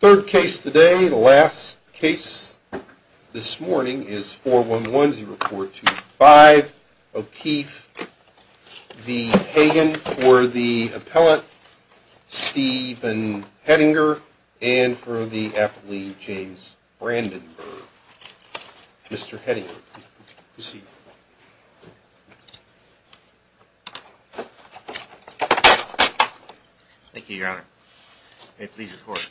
for the appellate Stephen Hedinger and for the aptly James Brandenburg. Mr. Hedinger, proceed. Thank you, your honor. May it please the court.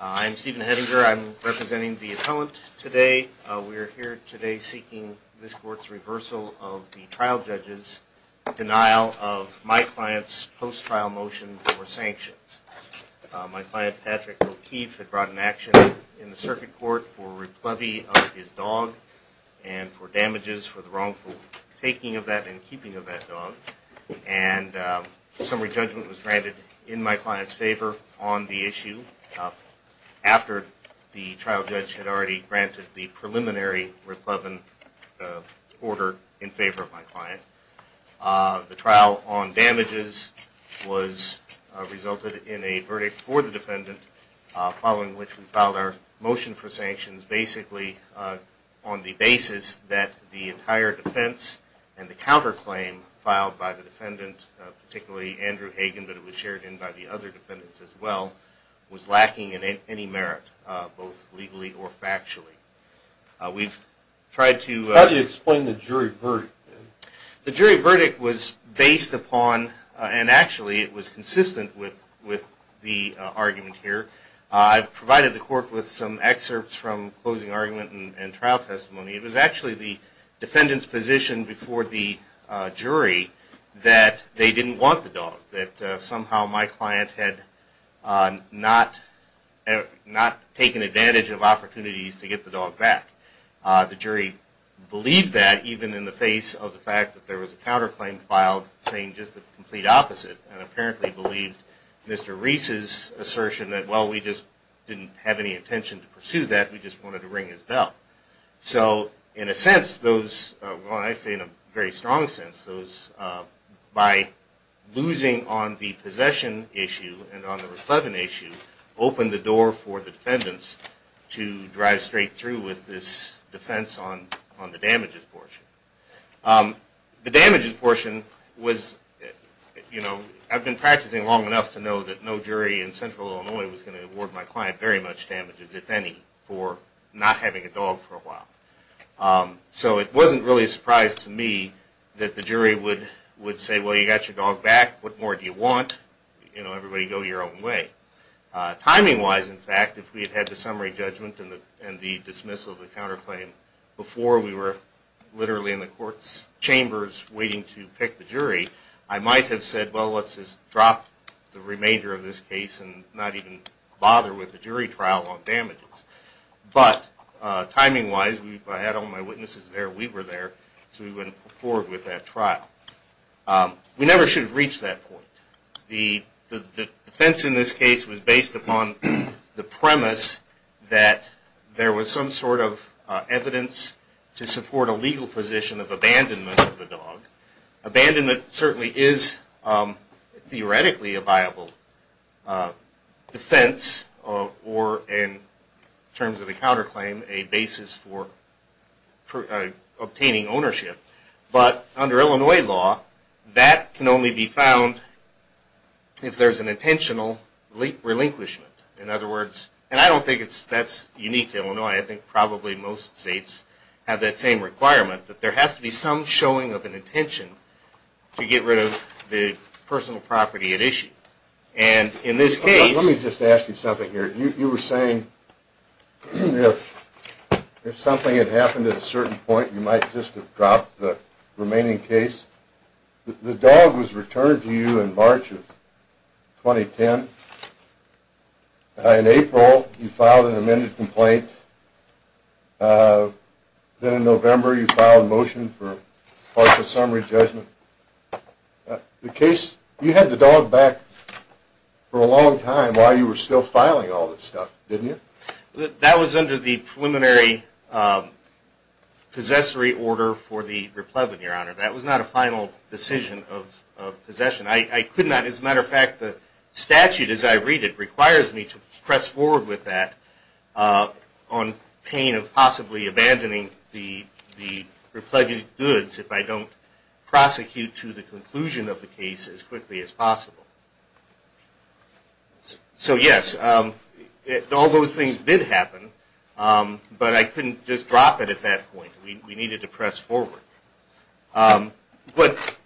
I'm Stephen Hedinger. I'm representing the appellant today. We're here today seeking this court's reversal of the trial judge's denial of my client's post-trial motion for sanctions. My client Patrick O'Keefe had brought an action in the circuit court for replevy of his dog and for damages for the wrongful taking of that and keeping of that dog. And summary judgment was granted in my client's favor on the issue after the trial judge had already granted the preliminary replevin order in favor of my client. The trial on damages was resulted in a verdict for the defendant following which we filed our motion for sanctions basically on the basis that the entire defense and the counterclaim filed by the defendant, particularly Andrew Hagan, but it was shared in by the other defendants as well, was lacking in any merit, both legally or factually. We've tried to... How do you explain the jury verdict? The jury verdict was based upon and actually it was consistent with the argument here. I provided the court with some excerpts from closing argument and trial testimony. It was actually the defendant's position before the jury that they didn't want the dog, that somehow my client had not taken advantage of opportunities to get the dog back. The jury believed that even in the face of the fact that there was a counterclaim filed saying just the complete opposite and apparently believed Mr. Reese's assertion that, well, we just didn't have any intention to pursue that, we just wanted to ring his bell. So in a sense, those, well I say in a very strong sense, those by losing on the possession issue and on the replevin issue opened the door for the defendants to drive straight through with this defense on the damages portion. The damages portion was, you know, I've been practicing long enough to know that no jury in central Illinois was going to award my client very much damages, if any, for not having a dog for a while. So it wasn't really a surprise to me that the jury would say, well, you got your dog back, what more do you want? You know, everybody go your own way. Timing wise, in fact, if we had had the summary judgment and the dismissal of the case and we were literally in the court's chambers waiting to pick the jury, I might have said, well, let's just drop the remainder of this case and not even bother with the jury trial on damages. But timing wise, I had all my witnesses there, we were there, so we went forward with that trial. We never should have reached that point. The defense in this case was based upon the premise that there was some sort of evidence to support a legal position of abandonment of the dog. Abandonment certainly is theoretically a viable defense or, in terms of the counterclaim, a basis for obtaining ownership. But under Illinois law, that can only be found if there is a claim to be made. I don't think that's unique to Illinois. I think probably most states have that same requirement, that there has to be some showing of an intention to get rid of the personal property at issue. And in this case... Let me just ask you something here. You were saying if something had happened at a certain point, you might just have dropped the remaining case. The dog was returned to you in March of 2010. In April, you filed an amended complaint. Then in November, you filed a motion for partial summary judgment. The case... You had the dog back for a long time while you were still filing all this stuff, didn't you? That was under the preliminary possessory order for the replevin, Your Honor. That was not a final decision of possession. As a matter of fact, the statute as I read it requires me to press forward with that on pain of possibly abandoning the replevin goods if I don't prosecute to the conclusion of the case as quickly as possible. So yes, all those things did happen, but I couldn't just drop it at that point. We needed to press forward. What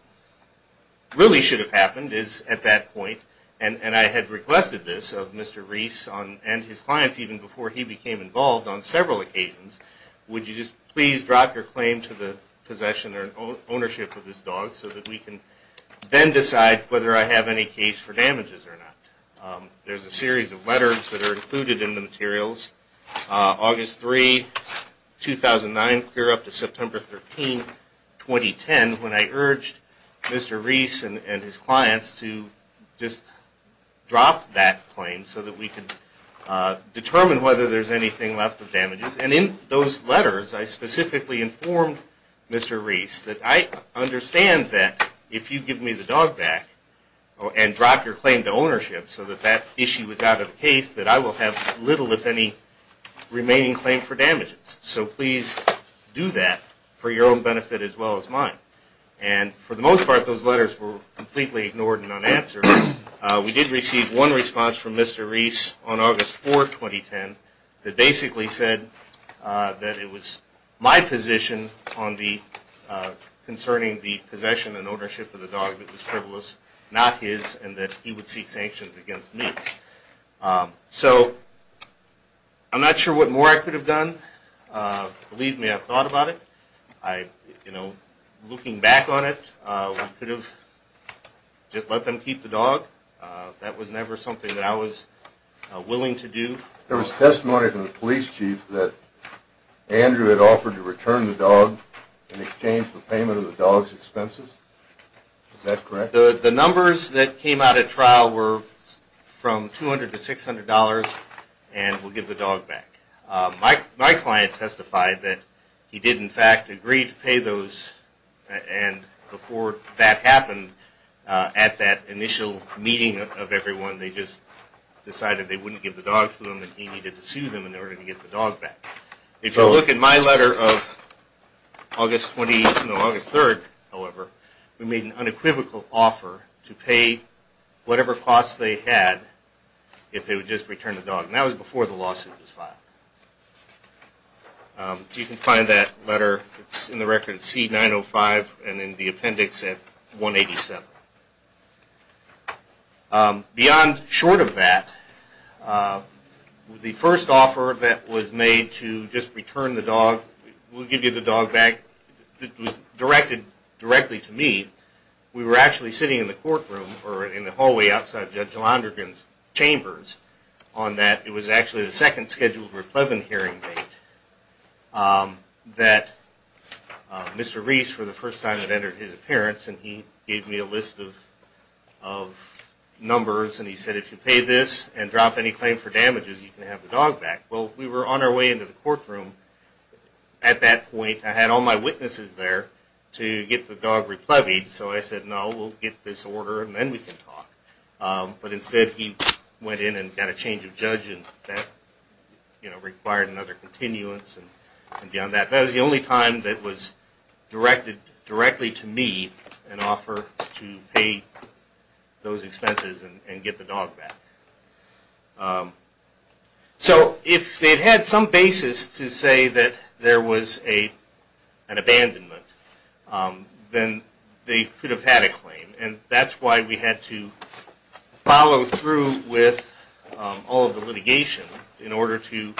really should have happened is at that point, and I had requested this of Mr. Reese and his clients even before he became involved on several occasions, would you just please drop your claim to the possession or ownership of this dog so that we can then decide whether I have any case for damages or not. There's a series of letters that are included in the materials. August 3, 2009 clear up to September 13, 2010 when I urged Mr. Reese and his clients to just drop that claim so that we can determine whether there's anything left of damages. And in those letters, I specifically informed Mr. Reese that I understand that if you give me the dog back and drop your claim to ownership so that that issue is out of the case that I will have little if any remaining claim for damages. So please do that for your own benefit as well as mine. And for the most part, those letters were completely ignored and unanswered. We did receive one response from Mr. Reese on August 4, 2010 that basically said that it was my position concerning the possession and ownership of the dog that was frivolous, not his, and that he would seek sanctions against me. So I'm not sure what more I could have done. Believe me, I've thought about it. You know, looking back on it, I could have just let them keep the dog. That was never something that I was willing to do. There was testimony from the police chief that Andrew had offered to return the dog in exchange for payment of the dog's expenses. Is that correct? The numbers that came out at trial were from $200 to $600 and we'll give the dog back. My client testified that he did, in fact, agree to pay those and before that happened at that initial meeting of everyone, they just decided they wouldn't give the dog to him and he needed to sue them in order to get the dog back. If you look at my letter of August 20, no, August 3, however, we made an unequivocal offer to pay whatever cost they had if they would just return the dog and that was before the lawsuit was filed. You can find that letter, it's in the record at C905 and in the appendix at 187. Beyond short of that, the first offer that was made to just return the dog, we'll give you the dog back, it was directed directly to me. We were actually sitting in the courtroom or in the hallway outside Judge Londrigan's chambers on that. It was actually the second scheduled replevant hearing date that Mr. Reese, for the first time, had entered his list of numbers and he said, if you pay this and drop any claim for damages, you can have the dog back. Well, we were on our way into the courtroom at that point. I had all my witnesses there to get the dog replevied so I said, no, we'll get this order and then we can talk. But instead he went in and got a change of judge and that required another continuance and beyond that. That was the only time that was directed directly to me an offer to pay those expenses and get the dog back. So if they had some basis to say that there was an abandonment, then they could have had a claim and that's why we had to follow through with all of the litigation in order to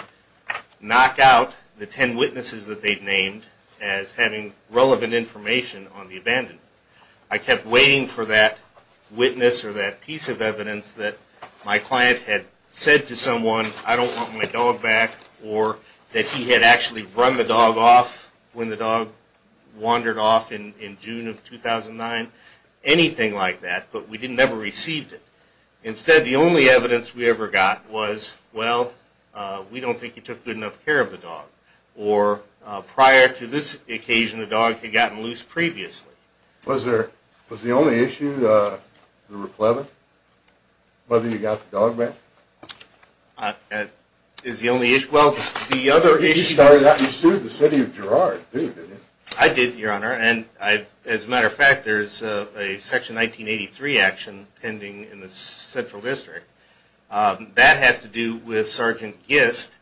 knock out the ten witnesses that they'd named as having relevant information on the abandonment. I kept waiting for that witness or that piece of evidence that my client had said to someone, I don't want my dog back or that he had actually run the dog off when the dog wandered off in June of 2009, anything like that, but we never received it. Instead, the only evidence we ever got was, well, we don't think you took good enough care of the dog or prior to this occasion the dog had gotten loose previously. Was the only issue the replevant? Whether you got the dog back? Is the only issue? Well, the other issue... You started out and sued the city of Girard, didn't you? I did, Your Honor, and as a matter of fact, there's a Section 1983 action pending in the Central District. That has to do with Sergeant Gist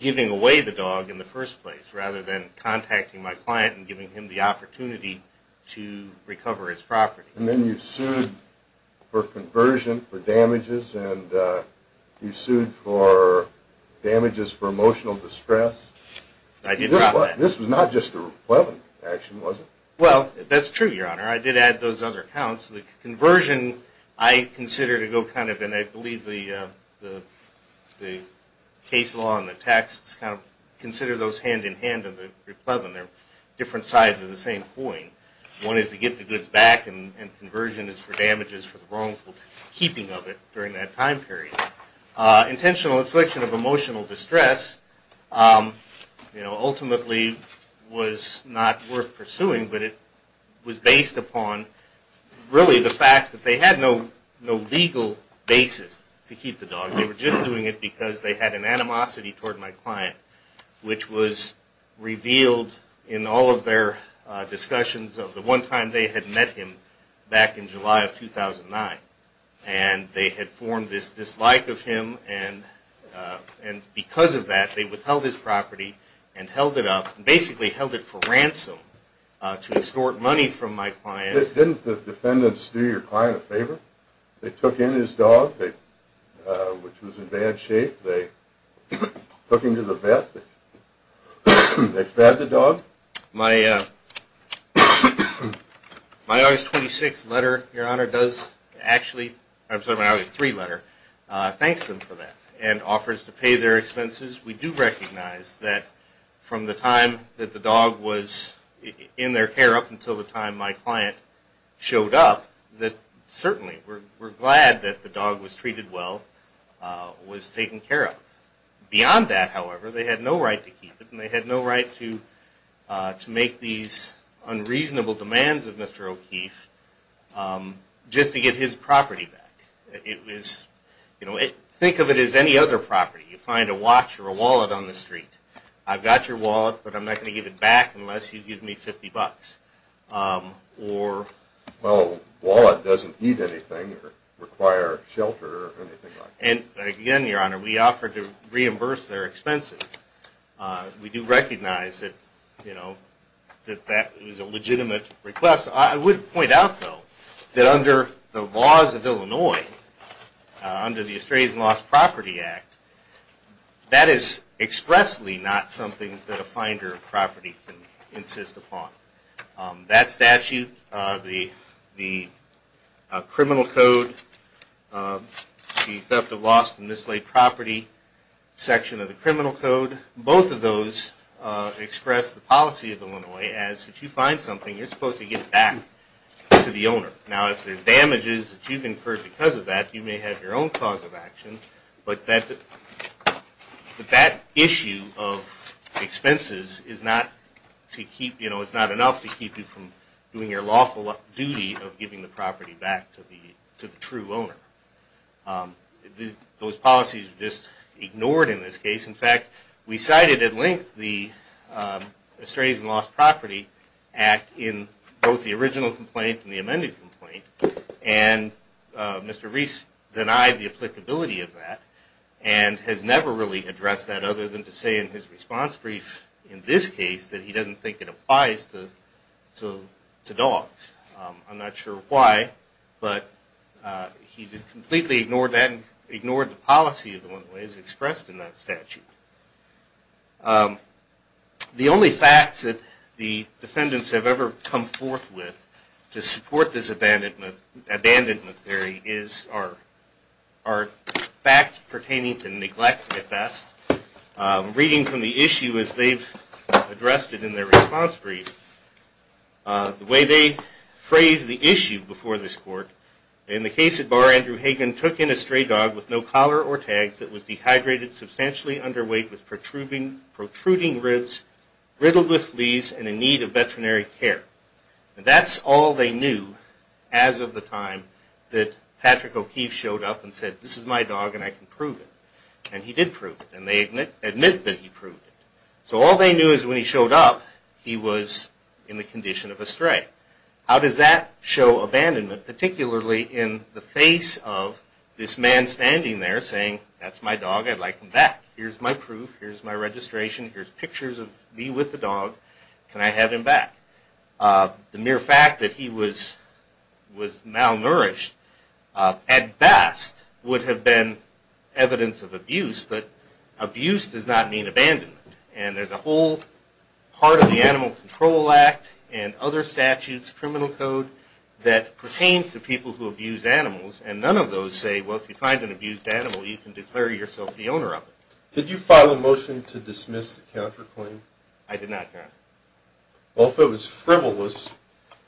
giving away the dog in the first place rather than contacting my client and giving him the opportunity to recover his property. And then you sued for conversion, for damages, and you sued for damages for emotional distress. This was not just the replevant action, was it? Well, that's true, Your Honor. I did add those other counts. The conversion, I consider to go kind of, and I believe the case law and the text kind of consider those hand-in-hand of the replevant. They're different sides of the same coin. One is to get the goods back, and conversion is for damages for the wrongful keeping of it during that time period. Intentional infliction of emotional distress ultimately was not worth pursuing, but it was based upon really the fact that they had no legal basis to keep the dog. They were just doing it because they had an animosity toward my client, which was revealed in all of their discussions of the one time they had met him back in July of 2009. And they had formed this dislike of him, and because of that, they withheld his property and held it up, and basically held it for ransom to extort money from my client. Didn't the defendants do your client a favor? They took in his dog, which was in bad shape. They took him to the vet. They fed the dog. My August 26 letter, Your Honor, does actually, I'm sorry, my August 3 letter, thanks them for that, and offers to pay their expenses. We do recognize that from the time that the dog was in their care up until the time my client showed up, that certainly we're glad that the dog was treated well, was taken care of. Beyond that, however, they had no right to keep it, and they had no right to make these unreasonable demands of Mr. O'Keefe just to get his property back. Think of it as any other property. You find a watch or a wallet on the street. I've got your wallet, but I'm not going to give it back unless you give me 50 bucks. Well, a wallet doesn't need anything or require shelter or anything like that. Again, Your Honor, we offer to reimburse their expenses. We do recognize that that is a legitimate request. I would point out, though, that under the laws of Illinois, under the Estranged and Lost Property Act, that is expressly not something that a finder of property can insist upon. That statute, the criminal code, the theft of lost and mislaid property section of the criminal code, both of those express the policy of Illinois as if you find something, you're supposed to give it back to the owner. Now, if there's damages that you've incurred because of that, you may have your own cause of action, but that issue of expenses is not enough to keep you from doing your lawful duty of giving the property back to the true owner. Those policies are just ignored in this case. In fact, we cited at length the Estranged and Lost Property Act in both the original complaint and the amended complaint, and Mr. Reese denied the applicability of that and has never really addressed that other than to say in his response brief in this case that he doesn't think it applies to dogs. I'm not sure why, but he just completely ignored that and ignored the policy of Illinois as expressed in that statute. The only facts that the defendants have ever come forth with to support this abandonment theory are facts pertaining to neglect at best. Reading from the issue as they've addressed it in their response brief, the way they phrase the issue before this court, in the case at bar, Andrew Hagen took in a stray dog with no collar or tags that was dehydrated, substantially underweight, with protruding ribs, riddled with fleas, and in need of veterinary care. That's all they knew as of the time that Patrick O'Keefe showed up and said, this is my dog and I can prove it. And he did prove it, and they admit that he proved it. So all they knew is when he showed up, he was in the condition of a stray. How does that show abandonment, particularly in the face of this man standing there saying, that's my dog, I'd like him back. Here's my proof. Here's my registration. Here's pictures of me with the dog. Can I have him back? The mere fact that he was malnourished at best would have been evidence of abuse, but abuse does not mean abandonment. And there's a whole part of the Animal Control Act and other statutes, criminal code, that pertains to people who abuse animals, and none of those say, well, if you find an abused animal, you can declare yourself the owner of it. Did you file a motion to dismiss the counterclaim? I did not, Your Honor. Well, if it was frivolous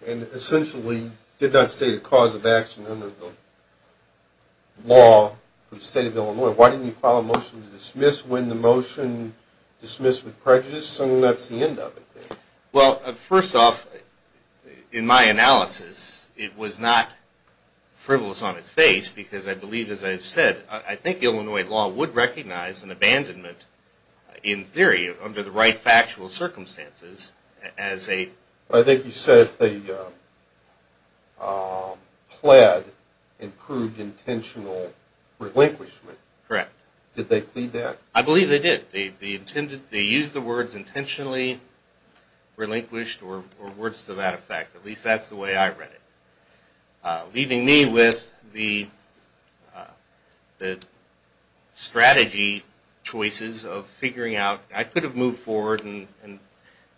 and essentially did not state a cause of action under the law for the State of Illinois, why didn't you file a motion to dismiss when the motion dismissed with prejudice and that's the end of it then? Well, first off, in my analysis, it was not frivolous on its face because I believe, as I've said, I think Illinois law would recognize an abandonment in theory under the right factual circumstances as a... Correct. Did they plead that? I believe they did. They used the words intentionally relinquished or words to that effect. At least that's the way I read it. Leaving me with the strategy choices of figuring out I could have moved forward and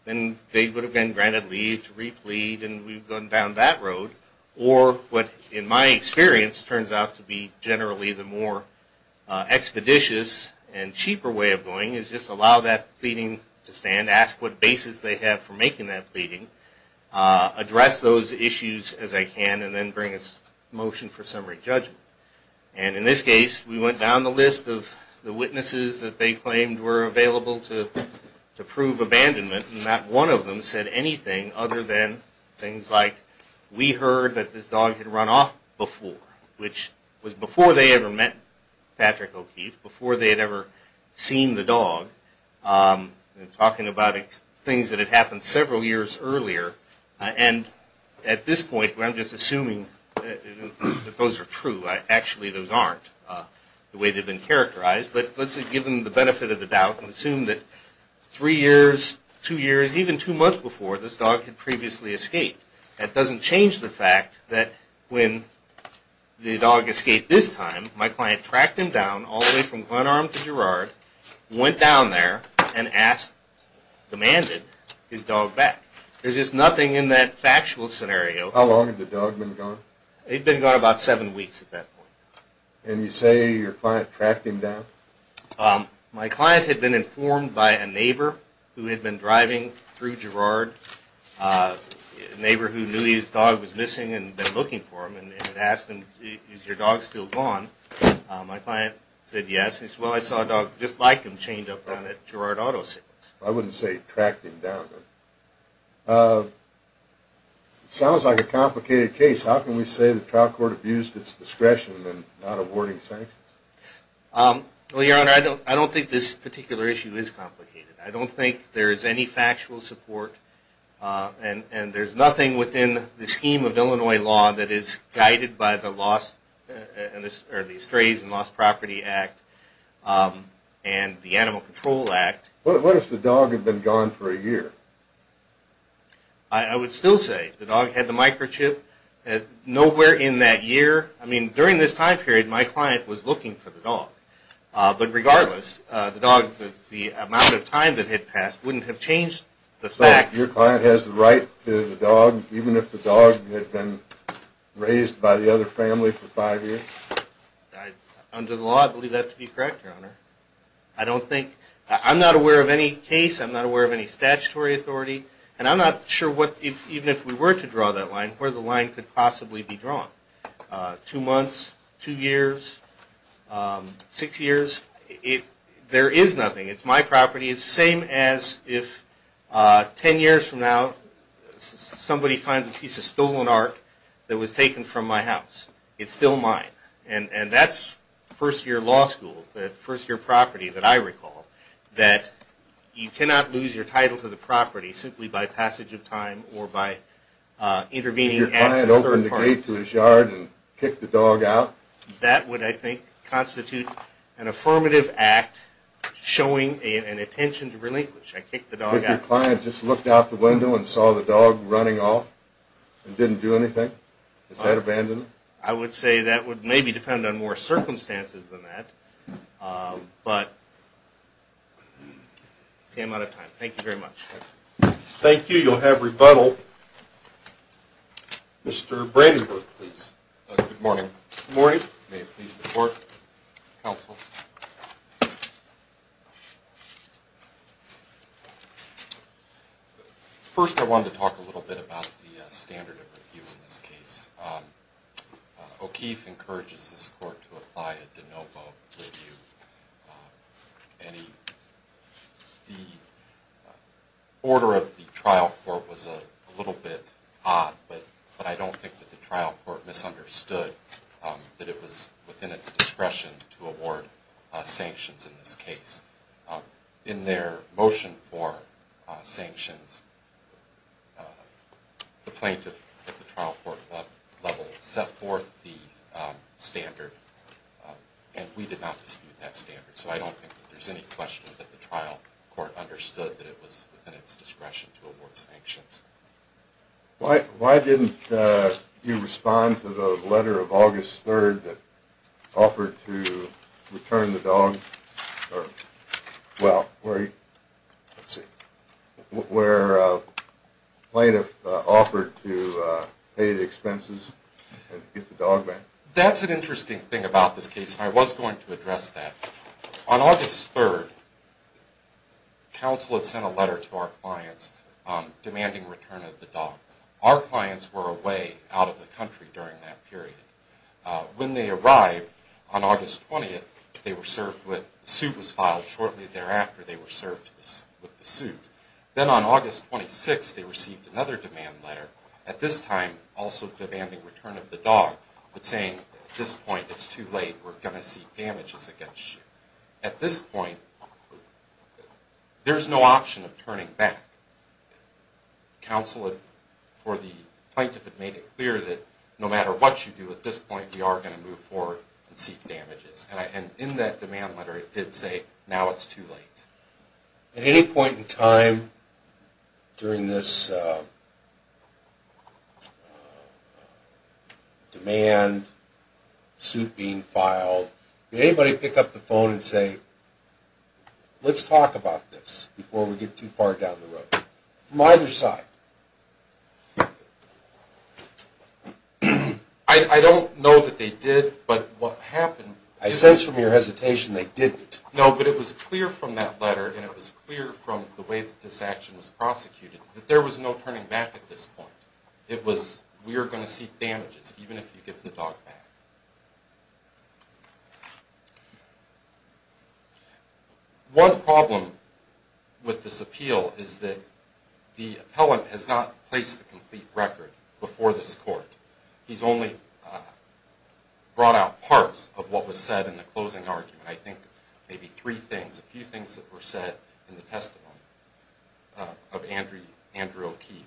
then they would have been granted leave to replead and we've gone down that road, or what in my experience turns out to be generally the more expeditious and cheaper way of going is just allow that pleading to stand, ask what basis they have for making that pleading, address those issues as I can, and then bring a motion for summary judgment. And in this case, we went down the list of the witnesses that they claimed were available to prove abandonment and not one of them said anything other than things like we heard that this dog had run off before, which was before they ever met Patrick O'Keefe, before they had ever seen the dog, talking about things that had happened several years earlier. And at this point, I'm just assuming that those are true. Actually, those aren't the way they've been characterized. But let's give them the benefit of the doubt and assume that three years, two years, even two months before this dog had previously escaped. That doesn't change the fact that when the dog escaped this time, my client tracked him down all the way from Glen Arm to Girard, went down there, and asked, demanded his dog back. There's just nothing in that factual scenario. How long had the dog been gone? They'd been gone about seven weeks at that point. And you say your client tracked him down? My client had been informed by a neighbor who had been driving through Girard, a neighbor who knew his dog was missing and had been looking for him, and had asked him, is your dog still gone? My client said yes. He said, well, I saw a dog just like him chained up down at Girard Auto Sales. I wouldn't say tracked him down. It sounds like a complicated case. How can we say the trial court abused its discretion in not awarding sanctions? Well, Your Honor, I don't think this particular issue is complicated. I don't think there is any factual support, and there's nothing within the scheme of Illinois law that is guided by the Estranged and Lost Property Act and the Animal Control Act. What if the dog had been gone for a year? I would still say the dog had the microchip. Nowhere in that year, I mean, during this time period, my client was looking for the dog. But regardless, the amount of time that had passed wouldn't have changed the fact. So your client has the right to the dog, even if the dog had been raised by the other family for five years? Under the law, I believe that to be correct, Your Honor. I'm not aware of any case. I'm not aware of any statutory authority. And I'm not sure, even if we were to draw that line, where the line could possibly be drawn. Two months, two years, six years. There is nothing. It's my property. It's the same as if ten years from now, somebody finds a piece of stolen art that was taken from my house. It's still mine. And that's first-year law school, that first-year property that I recall. That you cannot lose your title to the property simply by passage of time or by intervening acts of third parties. If your client opened the gate to his yard and kicked the dog out? That would, I think, constitute an affirmative act showing an intention to relinquish. I kicked the dog out. What if your client just looked out the window and saw the dog running off and didn't do anything? Is that abandonment? I would say that would maybe depend on more circumstances than that. But I'm out of time. Thank you very much. Thank you. You'll have rebuttal. Mr. Brandenburg, please. Good morning. Good morning. May it please the Court. Counsel. First, I wanted to talk a little bit about the standard of review in this case. O'Keefe encourages this Court to apply a de novo review. The order of the trial court was a little bit odd, but I don't think that the trial court misunderstood that it was within its discretion to award sanctions in this case. In their motion for sanctions, the plaintiff at the trial court level set forth the standard, and we did not dispute that standard. So I don't think there's any question that the trial court understood that it was within its discretion to award sanctions. Why didn't you respond to the letter of August 3rd that offered to return the dog? Well, let's see, where the plaintiff offered to pay the expenses and get the dog back. That's an interesting thing about this case, and I was going to address that. On August 3rd, counsel had sent a letter to our clients demanding return of the dog. Our clients were away out of the country during that period. When they arrived on August 20th, the suit was filed. Shortly thereafter, they were served with the suit. Then on August 26th, they received another demand letter, at this time also demanding return of the dog, but saying, at this point, it's too late, we're going to seek damages against you. At this point, there's no option of turning back. Counsel, for the plaintiff, had made it clear that no matter what you do at this point, we are going to move forward and seek damages. And in that demand letter, it did say, now it's too late. At any point in time during this demand, suit being filed, did anybody pick up the phone and say, let's talk about this before we get too far down the road? From either side. I don't know that they did, but what happened... I sense from your hesitation they didn't. No, but it was clear from that letter, and it was clear from the way that this action was prosecuted, that there was no turning back at this point. It was, we are going to seek damages, even if you give the dog back. One problem with this appeal is that the appellant has not placed a complete record before this court. He's only brought out parts of what was said in the closing argument. I think maybe three things, a few things that were said in the testimony of Andrew O'Keefe.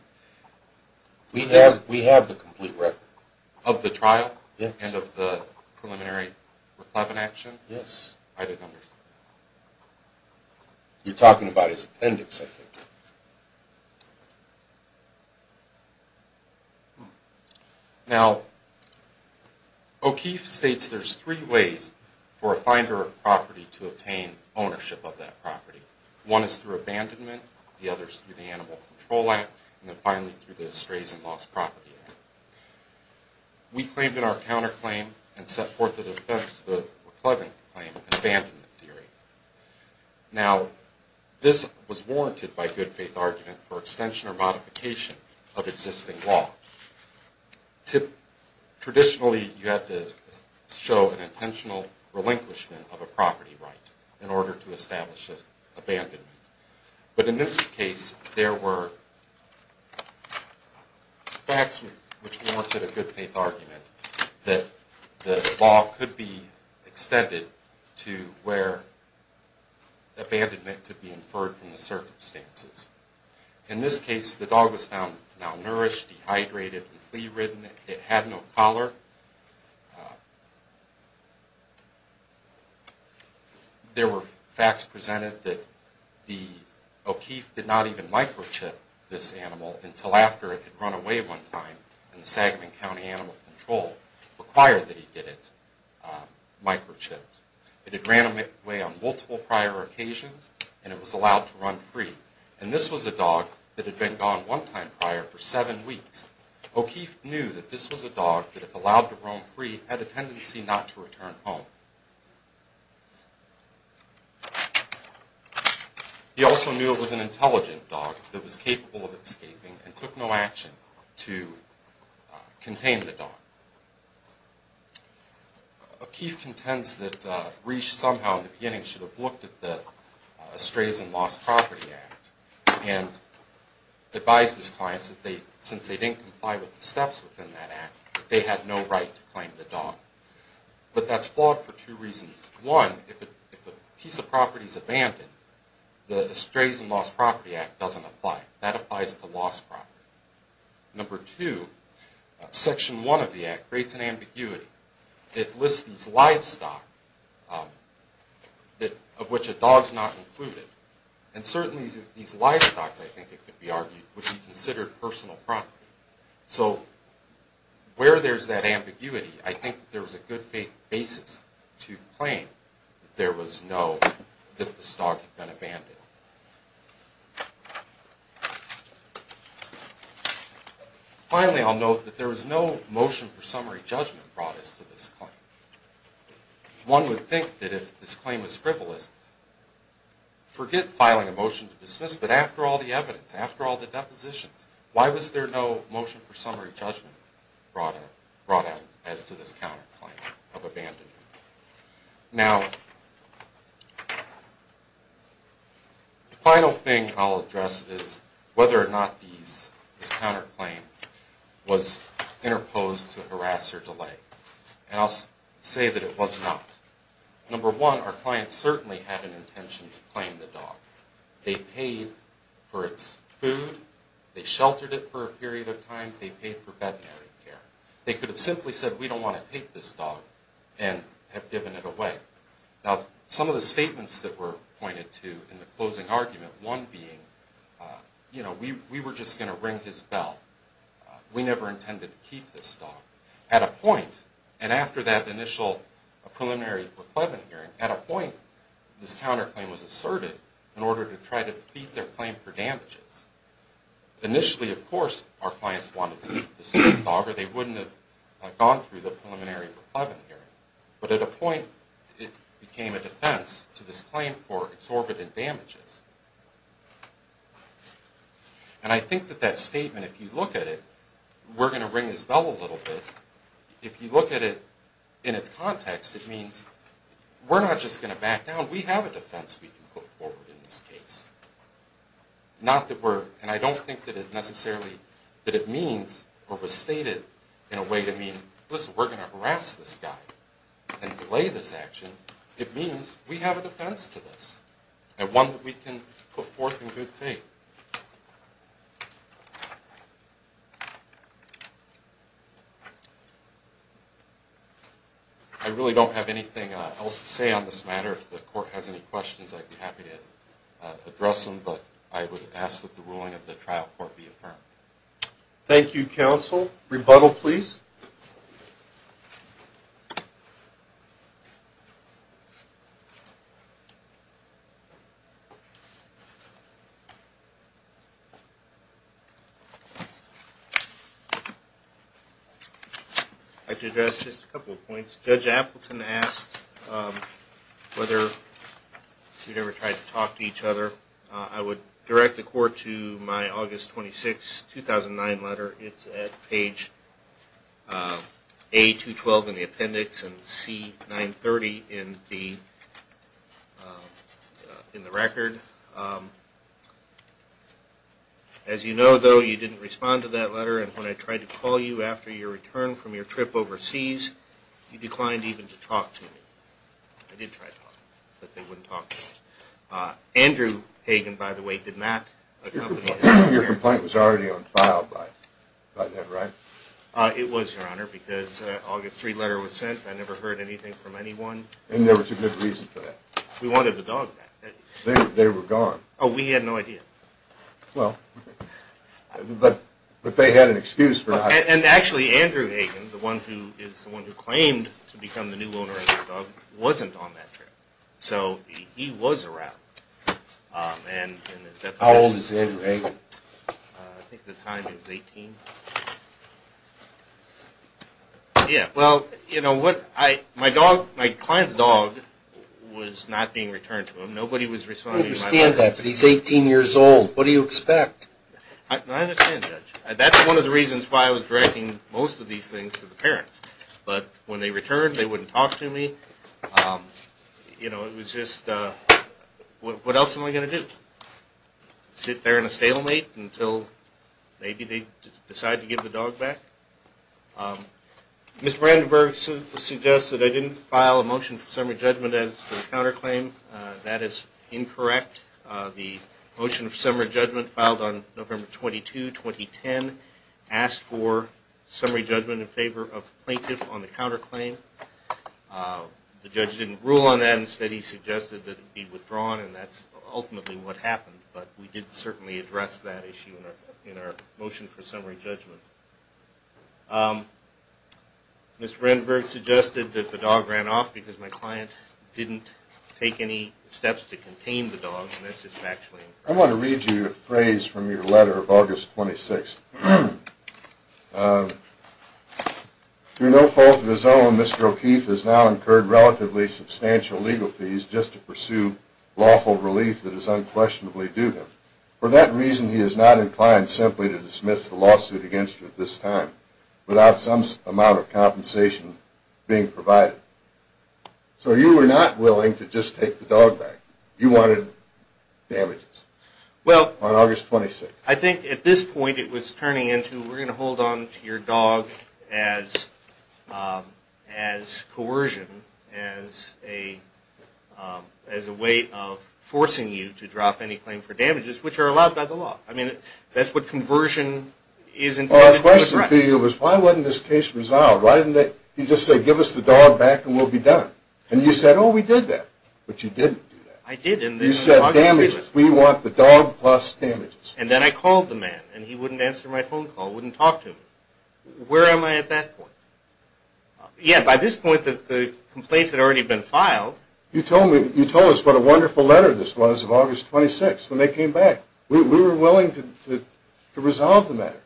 We have the complete record. Of the trial? Yes. And of the preliminary reclamation? Yes. I didn't understand. You're talking about his appendix, I think. Yes. Now, O'Keefe states there's three ways for a finder of property to obtain ownership of that property. One is through abandonment, the other is through the Animal Control Act, and then finally through the Estrays and Lost Property Act. We claimed in our counterclaim and set forth the defense to the McClellan claim in abandonment theory. Now, this was warranted by good faith argument for extension or modification of existing law. Traditionally, you have to show an intentional relinquishment of a property right in order to establish abandonment. But in this case, there were facts which warranted a good faith argument that the law could be extended to where abandonment could be inferred from the circumstances. In this case, the dog was found malnourished, dehydrated, and flea-ridden. It had no collar. There were facts presented that O'Keefe did not even microchip this animal until after it had run away one time and the Sagamon County Animal Control required that he get it microchipped. It had ran away on multiple prior occasions, and it was allowed to run free. And this was a dog that had been gone one time prior for seven weeks. O'Keefe knew that this was a dog that, if allowed to roam free, had a tendency not to return home. He also knew it was an intelligent dog that was capable of escaping and took no action to contain the dog. O'Keefe contends that Reesh somehow in the beginning should have looked at the Estrays and Lost Property Act and advised his clients that since they didn't comply with the steps within that act, they had no right to claim the dog. But that's flawed for two reasons. One, if a piece of property is abandoned, the Estrays and Lost Property Act doesn't apply. That applies to lost property. Number two, section one of the act creates an ambiguity. It lists these livestock, of which a dog is not included. And certainly these livestock, I think it could be argued, would be considered personal property. So where there's that ambiguity, I think there's a good basis to claim that there was no, that this dog had been abandoned. Finally, I'll note that there was no motion for summary judgment brought us to this claim. One would think that if this claim was frivolous, forget filing a motion to dismiss, but after all the evidence, after all the depositions, why was there no motion for summary judgment brought out as to this counterclaim of abandonment? Now, the final thing I'll address is whether or not this counterclaim was interposed to harass or delay. And I'll say that it was not. Number one, our clients certainly had an intention to claim the dog. They paid for its food. They sheltered it for a period of time. They paid for veterinary care. They could have simply said, we don't want to take this dog and have given it away. Now, some of the statements that were pointed to in the closing argument, one being, you know, we were just going to ring his bell. We never intended to keep this dog. At a point, and after that initial preliminary reclaimant hearing, at a point, this counterclaim was asserted in order to try to defeat their claim for damages. Initially, of course, our clients wanted to keep this dog or they wouldn't have gone through the preliminary reclaimant hearing. But at a point, it became a defense to this claim for exorbitant damages. And I think that that statement, if you look at it, we're going to ring his bell a little bit. If you look at it in its context, it means we're not just going to back down. We have a defense we can put forward in this case. Not that we're, and I don't think that it necessarily, that it means or was stated in a way to mean, listen, we're going to harass this guy and delay this action. It means we have a defense to this. And one that we can put forth in good faith. I really don't have anything else to say on this matter. If the court has any questions, I'd be happy to address them. But I would ask that the ruling of the trial court be affirmed. Rebuttal, please. I'd like to address just a couple of points. Judge Appleton asked whether we'd ever tried to talk to each other. I would direct the court to my August 26, 2009 letter. It's at page A212 in the appendix and C930 in the record. As you know, though, you didn't respond to that letter. And when I tried to call you after your return from your trip overseas, you declined even to talk to me. I did try to talk, but they wouldn't talk to me. Andrew Hagen, by the way, did not accompany me. Your complaint was already on file by then, right? It was, Your Honor, because an August 3 letter was sent. I never heard anything from anyone. And there was a good reason for that? We wanted the dog back. They were gone. Oh, we had no idea. Well, but they had an excuse for not coming. And actually, Andrew Hagen, the one who claimed to become the new owner of this dog, wasn't on that trip. So he was around. How old is Andrew Hagen? I think at the time he was 18. Yeah, well, you know, my client's dog was not being returned to him. Nobody was responding to my letter. I understand that, but he's 18 years old. What do you expect? I understand, Judge. That's one of the reasons why I was directing most of these things to the parents. But when they returned, they wouldn't talk to me. You know, it was just, what else am I going to do? Sit there in a stalemate until maybe they decide to give the dog back? Mr. Brandenburg suggests that I didn't file a motion for summary judgment against the counterclaim. That is incorrect. The motion for summary judgment filed on November 22, 2010, asked for summary judgment in favor of plaintiff on the counterclaim. The judge didn't rule on that. Instead, he suggested that it be withdrawn, and that's ultimately what happened. But we did certainly address that issue in our motion for summary judgment. Mr. Brandenburg suggested that the dog ran off because my client didn't take any steps to contain the dog, and that's just factually incorrect. I want to read you a phrase from your letter of August 26th. Through no fault of his own, Mr. O'Keefe has now incurred relatively substantial legal fees just to pursue lawful relief that is unquestionably due him. For that reason, he is not inclined simply to dismiss the lawsuit against you at this time without some amount of compensation being provided. So you were not willing to just take the dog back. You wanted damages on August 26th. I think at this point it was turning into we're going to hold on to your dog as coercion, as a way of forcing you to drop any claim for damages, which are allowed by the law. I mean, that's what conversion is intended to do. Well, the question for you was why wasn't this case resolved? Why didn't you just say give us the dog back and we'll be done? And you said, oh, we did that. But you didn't do that. I did. You said damages. We want the dog plus damages. And then I called the man, and he wouldn't answer my phone call, wouldn't talk to me. Where am I at that point? Yeah, by this point the complaint had already been filed. You told us what a wonderful letter this was of August 26th when they came back. We were willing to resolve the matter.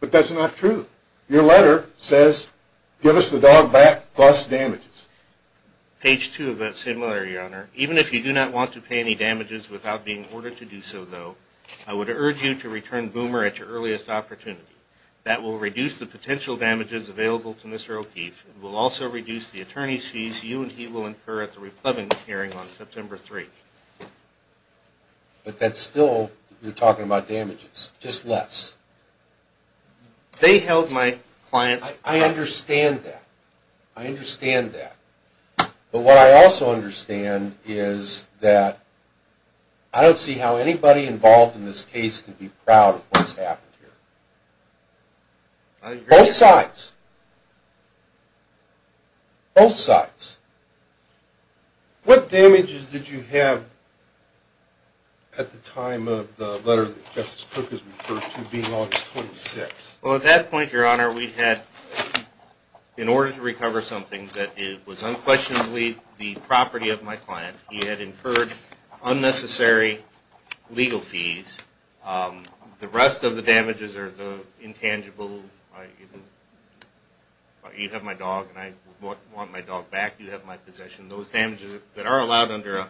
But that's not true. Your letter says give us the dog back plus damages. Page 2 of that similar, Your Honor. Even if you do not want to pay any damages without being ordered to do so, though, I would urge you to return Boomer at your earliest opportunity. That will reduce the potential damages available to Mr. O'Keefe. It will also reduce the attorney's fees you and he will incur at the reclaiming hearing on September 3. But that's still, you're talking about damages, just less. They held my client's dog. I understand that. I understand that. But what I also understand is that I don't see how anybody involved in this case can be proud of what's happened here. I agree. Both sides. Both sides. What damages did you have at the time of the letter that Justice Cook has referred to being August 26th? Well, at that point, Your Honor, we had, in order to recover something that was unquestionably the property of my client, he had incurred unnecessary legal fees. The rest of the damages are the intangible. You have my dog and I want my dog back. You have my possession. Those damages that are allowed under a...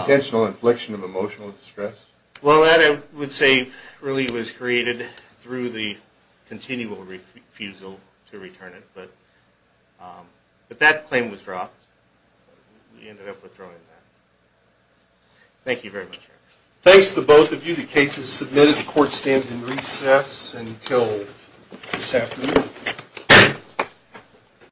Intentional infliction of emotional distress? Well, that I would say really was created through the continual refusal to return it. But that claim was dropped. We ended up withdrawing that. Thank you very much, Your Honor. Thanks to both of you. The case is submitted. The court stands in recess until this afternoon.